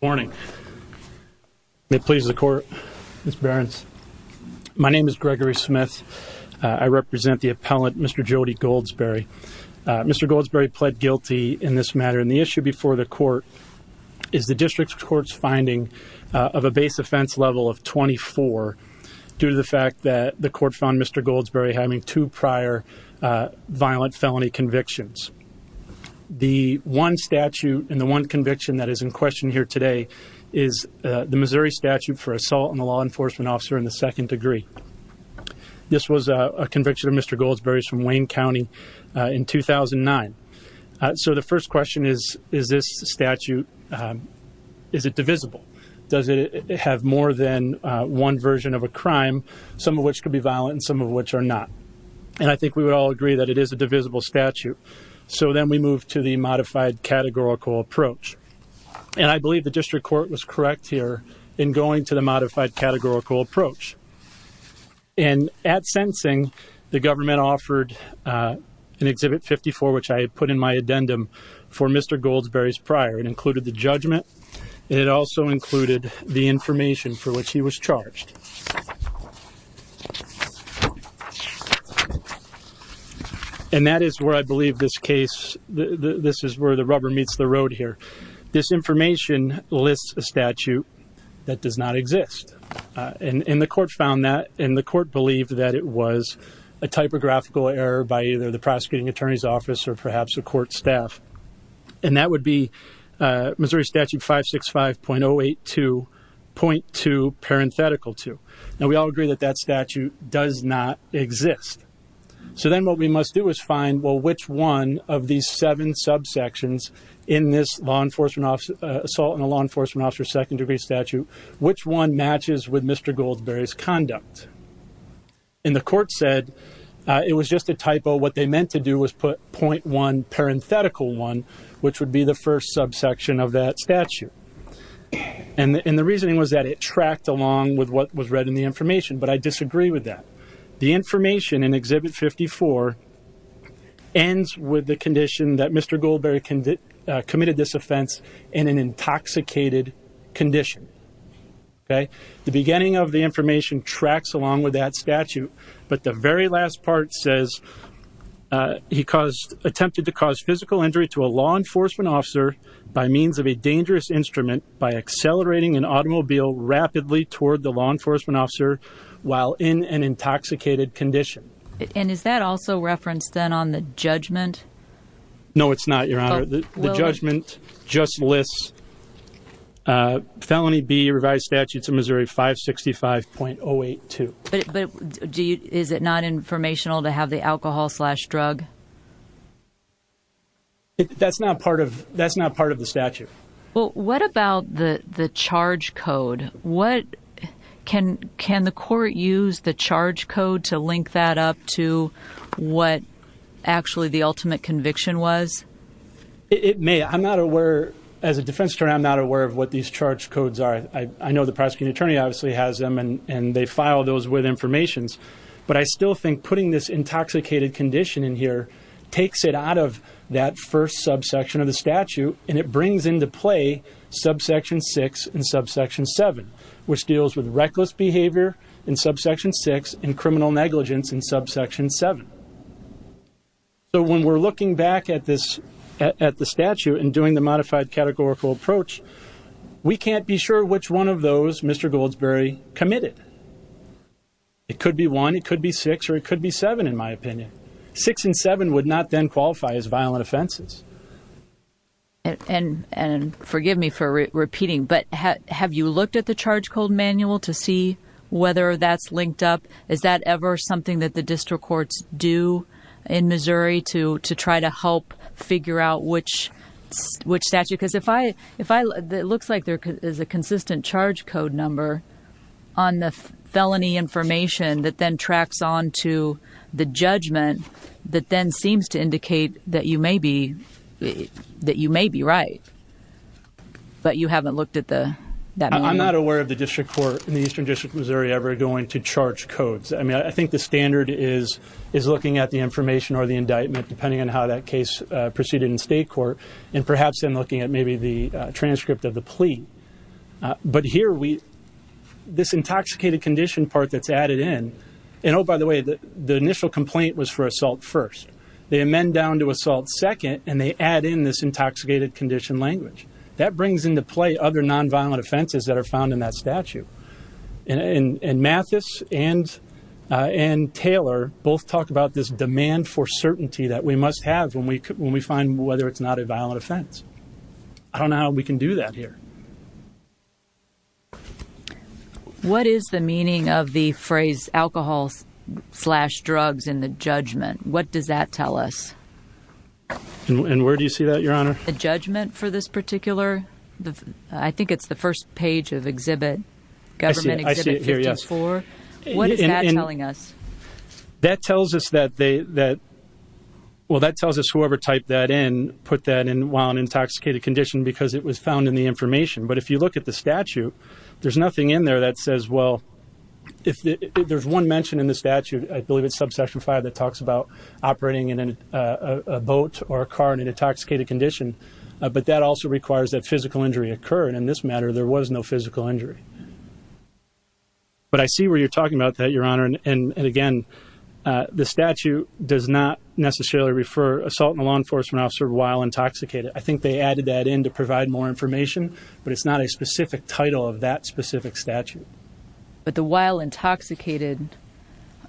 Good morning. May it please the Court, Ms. Behrens. My name is Gregory Smith. I represent the appellant, Mr. Jody Goldsberry. Mr. Goldsberry pled guilty in this matter, and the issue before the Court is the District Court's finding of a base offense level of 24 due to the fact that the Court found Mr. Goldsberry having two prior violent felony convictions. The one statute and the one conviction that is in question here today is the Missouri statute for assault on a law enforcement officer in the second degree. This was a conviction of Mr. Goldsberry's from Wayne County in 2009. So the first question is, is this statute, is it divisible? Does it have more than one version of a crime, some of which could be violent and some of which are not? And I think we would all agree that it is a divisible statute. So then we move to the modified categorical approach. And I believe the District Court was correct here in going to the modified categorical approach. And at sensing, the government offered an Exhibit 54, which I put in my addendum for Mr. Goldsberry's prior and the judgment. It also included the information for which he was charged. And that is where I believe this case, this is where the rubber meets the road here. This information lists a statute that does not exist. And the Court found that, and the Court believed that it was a typographical error by either the prosecuting attorney's office or perhaps a court staff. And that would be Missouri Statute 565.082.2.2. Now we all agree that that statute does not exist. So then what we must do is find, well, which one of these seven subsections in this law enforcement officer assault and a law enforcement officer second degree statute, which one matches with Mr. Goldsberry's conduct? And the Court said it was just a typo. What they parenthetical one, which would be the first subsection of that statute. And the reasoning was that it tracked along with what was read in the information. But I disagree with that. The information in Exhibit 54 ends with the condition that Mr. Goldsberry committed this offense in an intoxicated condition. Okay. The beginning of the information tracks along with that statute. But the very last part says he attempted to cause physical injury to a law enforcement officer by means of a dangerous instrument by accelerating an automobile rapidly toward the law enforcement officer while in an intoxicated condition. And is that also referenced then on the judgment? No, it's not, Your Honor. The judgment just lists felony B, statutes of Missouri 565.082. But is it not informational to have the alcohol slash drug? That's not part of the statute. Well, what about the charge code? Can the Court use the charge code to link that up to what actually the ultimate conviction was? It may. I'm not aware, as a defense attorney, I'm not aware of what these charge codes are. I know the prosecuting attorney obviously has them, and they file those with information. But I still think putting this intoxicated condition in here takes it out of that first subsection of the statute, and it brings into play subsection 6 and subsection 7, which deals with reckless behavior in subsection 6 and criminal negligence in subsection 7. So when we're looking back at the statute and doing the categorical approach, we can't be sure which one of those Mr. Goldsberry committed. It could be one, it could be six, or it could be seven, in my opinion. Six and seven would not then qualify as violent offenses. And forgive me for repeating, but have you looked at the charge code manual to see whether that's linked up? Is that ever something that the district courts do in Missouri to try to help figure out which statute? Because it looks like there is a consistent charge code number on the felony information that then tracks on to the judgment that then seems to indicate that you may be right, but you haven't looked at that manual? I'm not aware of the district court in the Eastern District of Missouri ever going to charge codes. I think the standard is looking at the information or the indictment, depending on how that case proceeded in state court, and perhaps then looking at maybe the transcript of the plea. But here, this intoxicated condition part that's added in, and oh by the way, the initial complaint was for assault first. They amend down to assault second, and they add in this intoxicated condition language. That brings into play other non-violent offenses that are found in that statute. And Mathis and Taylor both talk about this demand for certainty that we must have when we find whether it's not a violent offense. I don't know how we can do that here. What is the meaning of the phrase alcohol slash drugs in the judgment? What does that tell us? The judgment for this particular, I think it's the first page of exhibit, government exhibit 54. What is that telling us? Well, that tells us whoever typed that in put that in while in intoxicated condition because it was found in the information. But if you look at the statute, there's nothing in there that says, well, if there's one mention in the statute, I believe it's subsection five that talks about operating in a boat or a car in an intoxicated condition. But that also requires that physical injury occurred. In this matter, there was no physical injury. But I see where you're talking about that, Your Honor. And again, the statute does not necessarily refer assault on a law enforcement officer while intoxicated. I think they added that in to provide more information, but it's not a specific title of that specific statute. But the while intoxicated,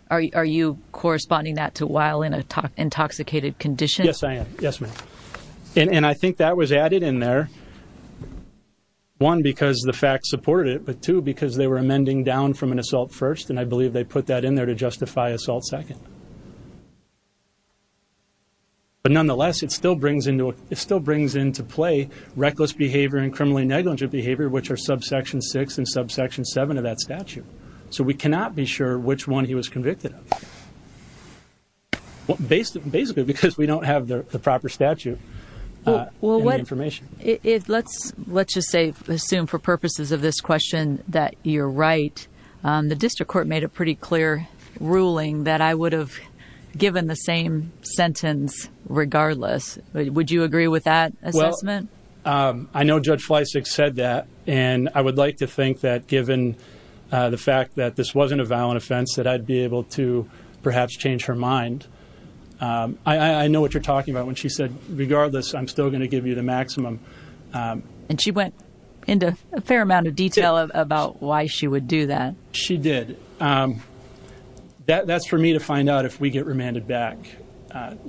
are you corresponding that to while in an intoxicated condition? Yes, I am. Yes, ma'am. And I think that was added in there. One, because the fact supported it, but two, because they were amending down from an assault first. And I believe they put that in there to justify assault second. But nonetheless, it still brings into it still brings into play reckless behavior and criminally negligent behavior, which are subsection six and subsection seven of that statute. So we cannot be sure which one he was convicted of. Basically, because we don't have the proper statute. Well, what information it let's let's just say, assume for purposes of this question that you're right. The district court made a pretty clear ruling that I would have given the same sentence regardless. Would you agree with that assessment? I know Judge Fleissig said that. And I would like to think that given the fact that this wasn't a violent offense, that I'd be able to perhaps change her mind. I know what you're talking about when she said, regardless, I'm still going to give you the maximum. And she went into a fair amount of detail about why she would do that. She did. That's for me to find out if we get remanded back.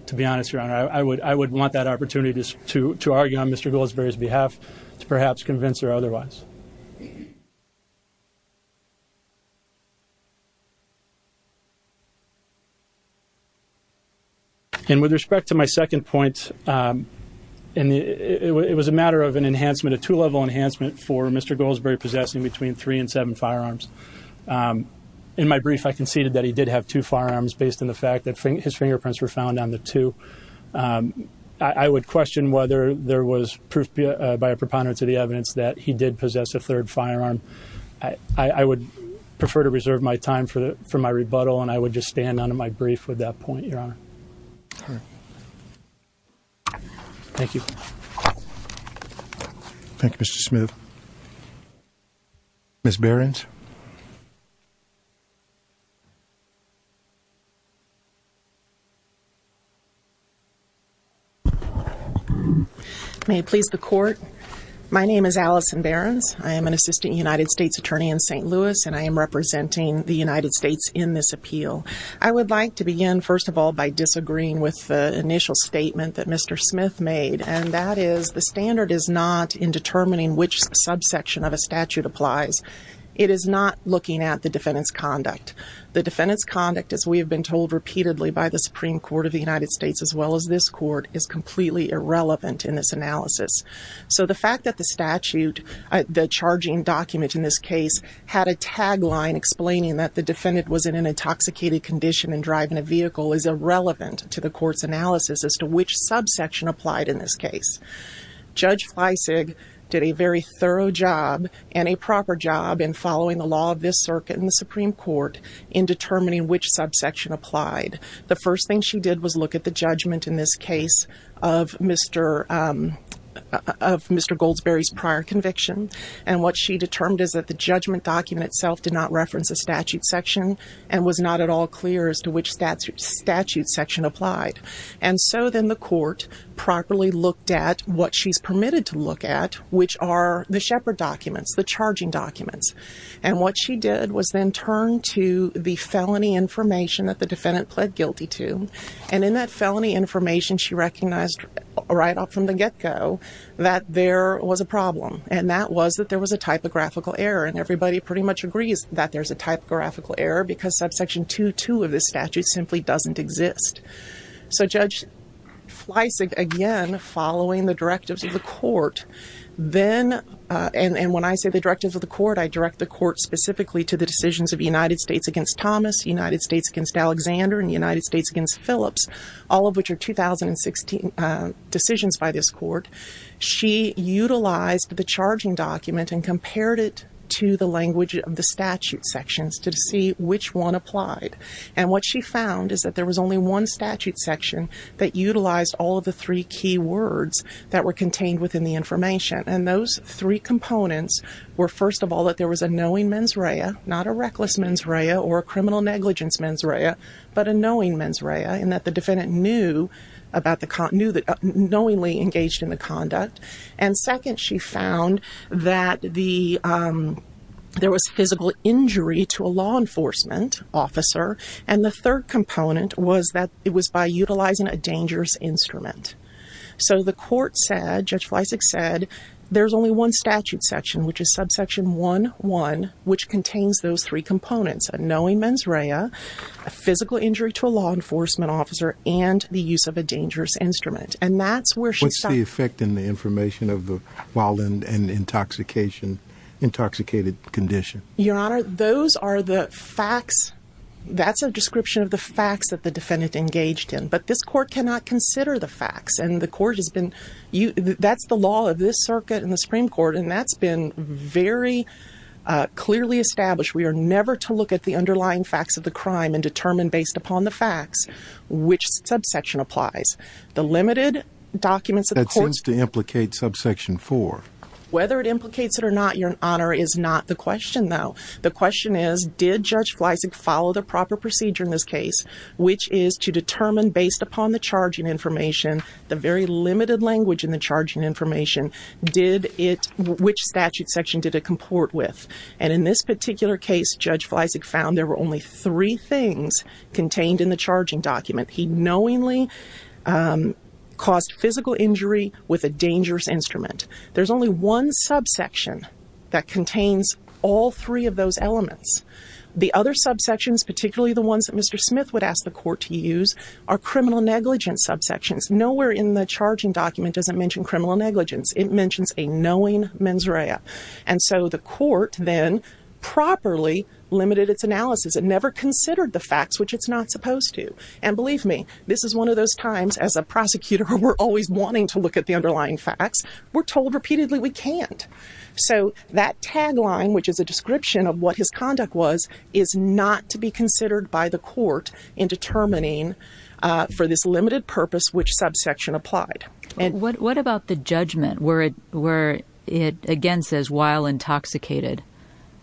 To be honest, Your Honor, I would want that opportunity to argue on Mr. Goldsberry's behalf, to perhaps convince her otherwise. And with respect to my second point, it was a matter of an enhancement, a two level enhancement for Mr. Goldsberry possessing between three and seven firearms. In my brief, I conceded that he did have two firearms based on the fact that his fingerprints were found on the two. I would question whether there was proof by a preponderance of the evidence that he did possess a third firearm. I would prefer to reserve my time for my rebuttal and I would just stand on my brief with that point, Your Honor. Thank you. Thank you, Mr. Smith. Ms. Behrens. May it please the court. My name is Allison Behrens. I am an assistant United States attorney in St. Louis and I am representing the United States in this appeal. I would like to begin, first of all, by disagreeing with the initial statement that Mr. Smith made. And that is, the standard is not in determining which subsection of a statute applies. It is not looking at the defendant's conduct. The defendant's conduct, as we have been told repeatedly by the Supreme Court of the United States, as well as this court, is completely irrelevant in this analysis. So the fact that the statute, the charging document in this case, had a tagline explaining that the defendant was in an intoxicated condition and driving a vehicle is irrelevant to the court's this case. Judge Fleisig did a very thorough job and a proper job in following the law of this circuit in the Supreme Court in determining which subsection applied. The first thing she did was look at the judgment in this case of Mr. Goldsberry's prior conviction. And what she determined is that the judgment document itself did not reference a statute section and was not at all clear as to which statute section applied. And so then the court properly looked at what she's permitted to look at, which are the Shepherd documents, the charging documents. And what she did was then turn to the felony information that the defendant pled guilty to. And in that felony information, she recognized right off from the get-go that there was a problem. And that was that there was a typographical error. And everybody pretty much agrees that there's a typographical error because subsection 2.2 of this statute simply doesn't exist. So Judge Fleisig, again, following the directives of the court, then, and when I say the directives of the court, I direct the court specifically to the decisions of United States against Thomas, United States against Alexander, and United States against Phillips, all of which are 2016 decisions by this court. She utilized the applied. And what she found is that there was only one statute section that utilized all of the three key words that were contained within the information. And those three components were, first of all, that there was a knowing mens rea, not a reckless mens rea or a criminal negligence mens rea, but a knowing mens rea, and that the defendant knew about the, knew that, knowingly engaged in conduct. And second, she found that the, there was physical injury to a law enforcement officer. And the third component was that it was by utilizing a dangerous instrument. So the court said, Judge Fleisig said, there's only one statute section, which is subsection 1.1, which contains those three components, a knowing mens rea, a physical injury to a law enforcement officer, and the use of a dangerous instrument. And that's where she... What's the effect in the information of the violent and intoxication, intoxicated condition? Your honor, those are the facts. That's a description of the facts that the defendant engaged in, but this court cannot consider the facts. And the court has been, that's the law of this circuit and the Supreme Court. And that's been very clearly established. We are never to look at the underlying facts of the crime and subsection applies. The limited documents... That seems to implicate subsection 4. Whether it implicates it or not, your honor, is not the question though. The question is, did Judge Fleisig follow the proper procedure in this case, which is to determine based upon the charging information, the very limited language in the charging information, did it, which statute section did it comport with? And in this particular case, Judge Fleisig found there were only three things contained in the charging document. He knowingly caused physical injury with a dangerous instrument. There's only one subsection that contains all three of those elements. The other subsections, particularly the ones that Mr. Smith would ask the court to use, are criminal negligence subsections. Nowhere in the charging document doesn't mention criminal negligence. It mentions a knowing mens rea. And so the court then properly limited its analysis. It never considered the And believe me, this is one of those times as a prosecutor, we're always wanting to look at the underlying facts. We're told repeatedly we can't. So that tagline, which is a description of what his conduct was, is not to be considered by the court in determining for this limited purpose, which subsection applied. What about the judgment where it again says while intoxicated?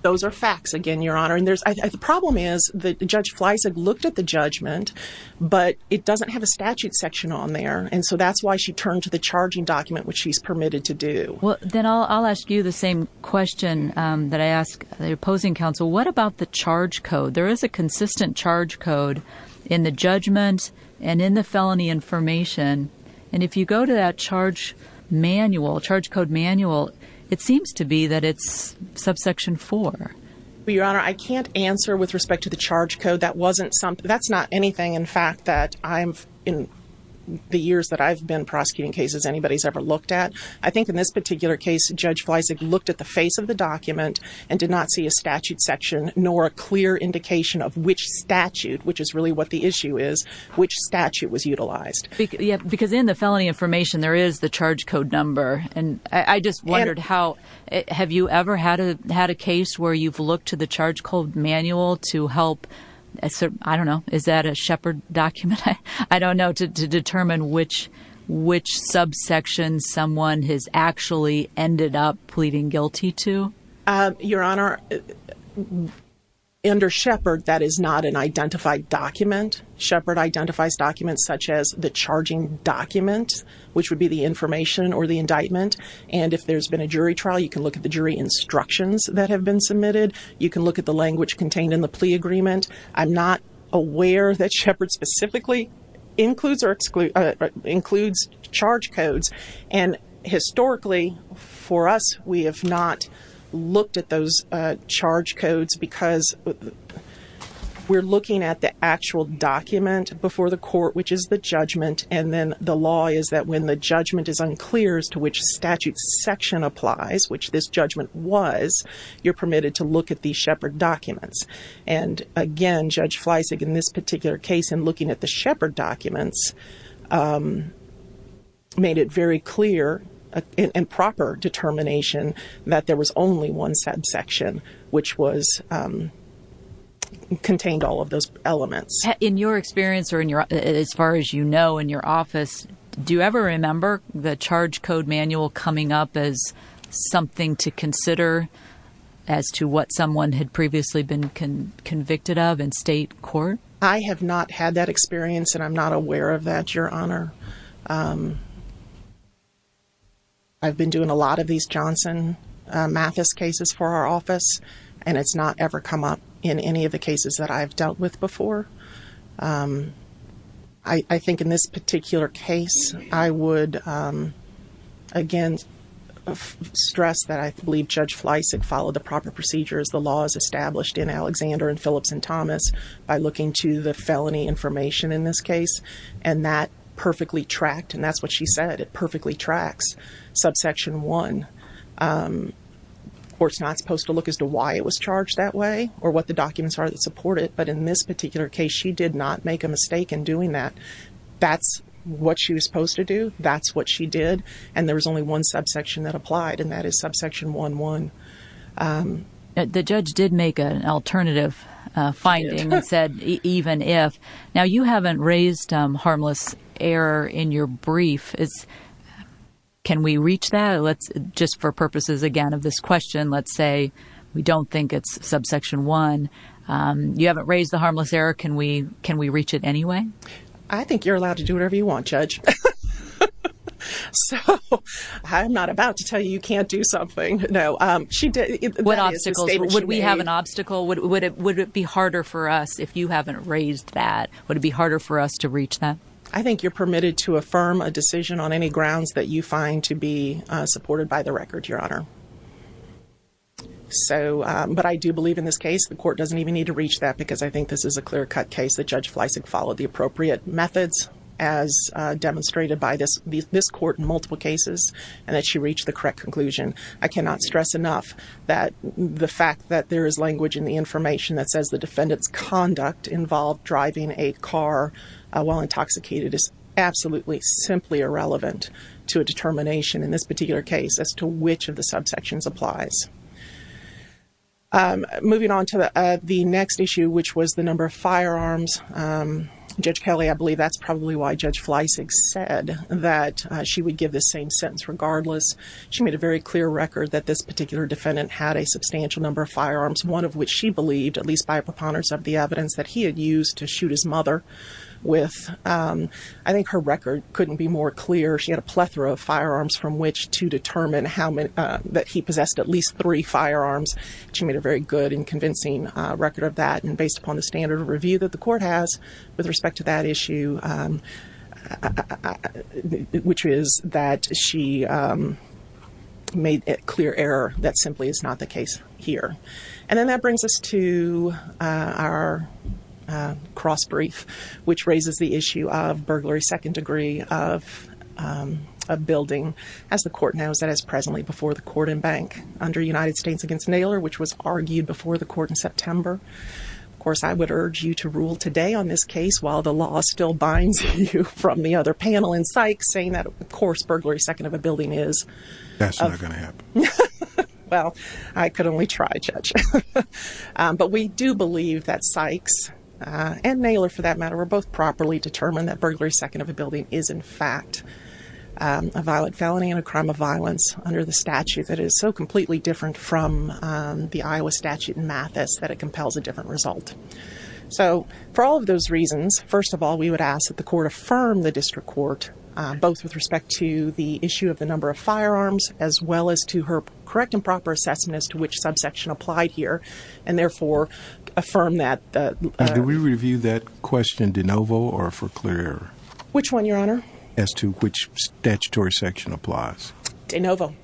Those are facts again, your honor. And the problem is that Judge Fleisig looked at the but it doesn't have a statute section on there. And so that's why she turned to the charging document, which she's permitted to do. Well, then I'll ask you the same question that I ask the opposing counsel. What about the charge code? There is a consistent charge code in the judgment and in the felony information. And if you go to that charge manual, charge code manual, it seems to be that it's subsection four. Your honor, I can't answer with respect to the charge code. That wasn't something that's not anything. In fact, that I'm in the years that I've been prosecuting cases anybody's ever looked at. I think in this particular case, Judge Fleisig looked at the face of the document and did not see a statute section nor a clear indication of which statute, which is really what the issue is, which statute was utilized. Because in the felony information, there is the charge code number. And I just wondered how have you ever had a had a case where you've looked to the charge code manual to help? I don't know. Is that a Shepard document? I don't know to determine which subsection someone has actually ended up pleading guilty to. Your honor, under Shepard, that is not an identified document. Shepard identifies documents such as the charging document, which would be the information or the indictment. And if there's been a jury trial, you can look at the jury instructions that have been submitted. You can look at the language contained in the plea agreement. I'm not aware that Shepard specifically includes or excludes, includes charge codes. And historically for us, we have not looked at those charge codes because we're looking at the actual document before the court, which is the judgment. And then the law is that when the judgment is unclear as to which statute section applies, which this judgment was, you're permitted to look at these Shepard documents. And again, Judge Fleissig in this particular case, in looking at the Shepard documents, made it very clear and proper determination that there was only one subsection, which contained all of those elements. In your experience or in your, as far as you know, in your office, do you ever remember the charge code manual coming up as something to consider as to what someone had previously been convicted of in state court? I have not had that experience and I'm not aware of that, your honor. I've been doing a lot of these Johnson Mathis cases for our office and it's not ever come up in any of the cases that I've dealt with before. I think in this particular case, I would, again, stress that I believe Judge Fleissig followed the proper procedures. The law is established in Alexander and Phillips and Thomas by looking to the felony information in this case and that perfectly tracked. And that's what she said. It perfectly tracks subsection one. The court's not supposed to look as to why it was charged that way or what the documents are that support it. But in this particular case, she did not make a mistake in doing that. That's what she was supposed to do. That's what she did. And there was only one subsection that applied and that is subsection one, one. The judge did make an alternative finding and said, even if. Now you haven't raised harmless error in your brief. Can we reach that? Just for purposes, again, of this question, let's say we don't think it's subsection one. You haven't raised the harmless error. Can we can we reach it anyway? I think you're allowed to do whatever you want, Judge. So I'm not about to tell you you can't do something. No. Would we have an obstacle? Would it be harder for us if you haven't raised that? Would it be harder for us to reach that? I think you're permitted to affirm a decision on any grounds that you find to be supported by the record, Your Honor. So but I do believe in this case, the court doesn't even need to reach that because I think this is a clear cut case that Judge Fleissig followed the appropriate methods as demonstrated by this this court in multiple cases and that she reached the correct conclusion. I cannot stress enough that the fact that there is language in the information that says the defendant's conduct involved driving a car while intoxicated is absolutely simply irrelevant to a determination in this particular case as to which of the subsections applies. Moving on to the next issue, which was the number of firearms, Judge Kelly, I believe that's probably why Judge Fleissig said that she would give the same sentence regardless. She made a very clear record that this particular defendant had a substantial number of firearms, one of which she believed, at least by preponderance of the evidence that he had used to shoot his mother with. I think her record couldn't be more clear. She had a plethora of firearms from which to determine how that he possessed at least three firearms. She made a very good and convincing record of that. And based upon the standard of review that the court has with respect to that issue, which is that she made it clear error, that simply is not the case here. And then that brings us to our cross-brief, which raises the issue of burglary, second degree of a building. As the court knows that as presently before the court and bank under United States against Naylor, which was argued before the court in September. Of course, I would urge you to rule today on this case while the law still binds you from the other panel in Sykes saying that, of course, burglary second of a building is. That's not going to happen. Well, I could only try, Judge. But we do believe that Sykes and Naylor, for that matter, were both properly determined that burglary second of a building is, in fact, a violent felony and a crime of violence under the statute that is so completely different from the Iowa statute in Mathis that it compels a different result. So for all of those reasons, first of all, we would ask that the court affirm the district court, both with respect to the issue of the number of firearms, as well as to her correct and proper assessment as to which subsection applied here and therefore affirm that. Did we review that question de novo or for clear? Which one, Your Honor? As to which statutory section applies. De novo.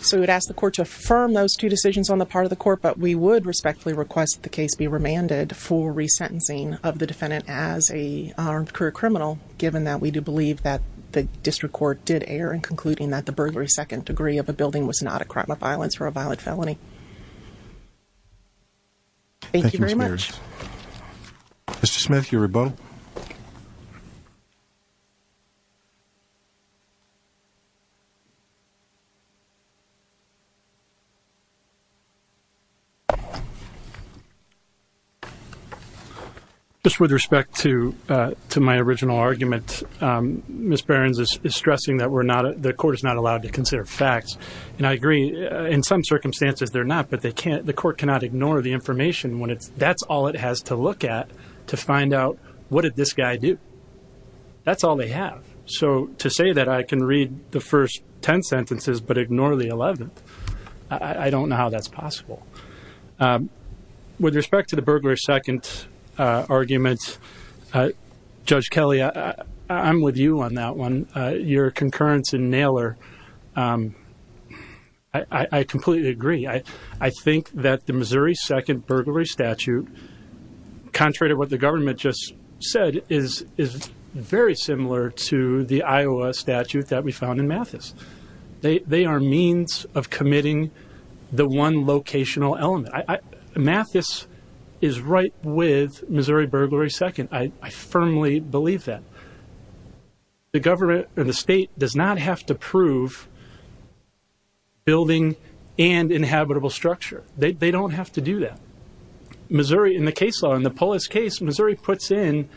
So we would ask the court to affirm those two decisions on the part of the court, but we would respectfully request the case be remanded for resentencing of the defendant as armed career criminal, given that we do believe that the district court did err in concluding that the burglary second degree of a building was not a crime of violence or a violent felony. Thank you very much. Mr. Smith, you're above. Thank you. Just with respect to my original argument, Miss Barron's is stressing that we're not the court is not allowed to consider facts, and I agree in some circumstances they're not, but they can't. The court cannot ignore the 11th. What did this guy do? That's all they have. So to say that I can read the first 10 sentences but ignore the 11th, I don't know how that's possible. With respect to the burglary second argument, Judge Kelly, I'm with you on that one. Your concurrence in Naylor, I completely agree. I think that the Missouri second burglary statute, contrary to what the government just said, is very similar to the Iowa statute that we found in Mathis. They are means of committing the one locational element. Mathis is right with Missouri burglary second. I firmly believe that. The government and the state does not have to prove a building and inhabitable structure. They don't have to do that. Missouri, in the case law, in the Polis case, Missouri puts in,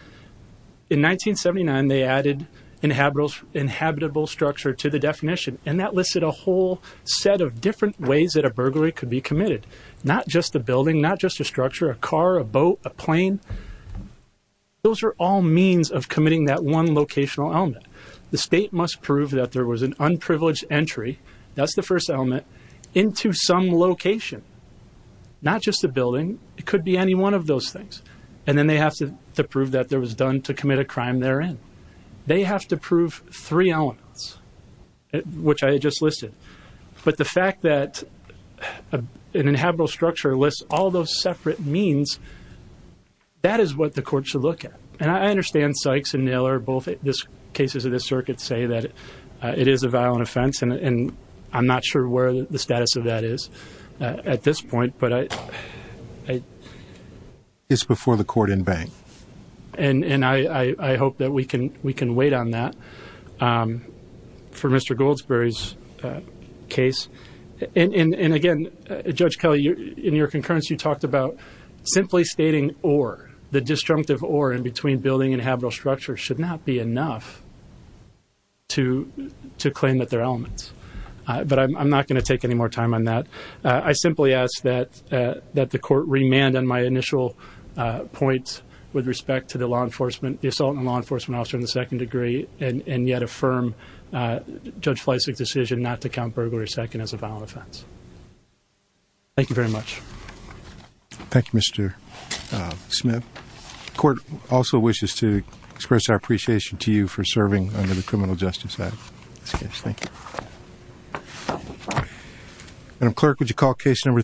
in 1979, they added inhabitable structure to the definition, and that listed a whole set of different ways that a burglary could be committed. Not just the building, not just a structure, a car, a boat, a plane. Those are all means of committing that one locational element. The state must prove that there was an unprivileged entry, that's the first element, into some location. Not just the building. It could be any one of those things. And then they have to prove that there was done to commit a crime therein. They have to prove three elements, which I just listed. But the fact that an inhabitable structure lists all those separate means, that is what the court should it is a violent offense, and I'm not sure where the status of that is at this point. It's before the court in vain. And I hope that we can wait on that for Mr. Goldsberry's case. And again, Judge Kelly, in your concurrence, you talked about simply stating or, the disjunctive or in between inhabitable structure should not be enough to claim that they're elements. But I'm not going to take any more time on that. I simply ask that the court remand on my initial point with respect to the law enforcement, the assault on a law enforcement officer in the second degree, and yet affirm Judge Fleisig's decision not to count burglary second as a violent offense. Thank you very much. Thank you, Mr. Smith. Court also wishes to express our appreciation to you for serving under the criminal justice side. Thank you. Madam Clerk, would you call case number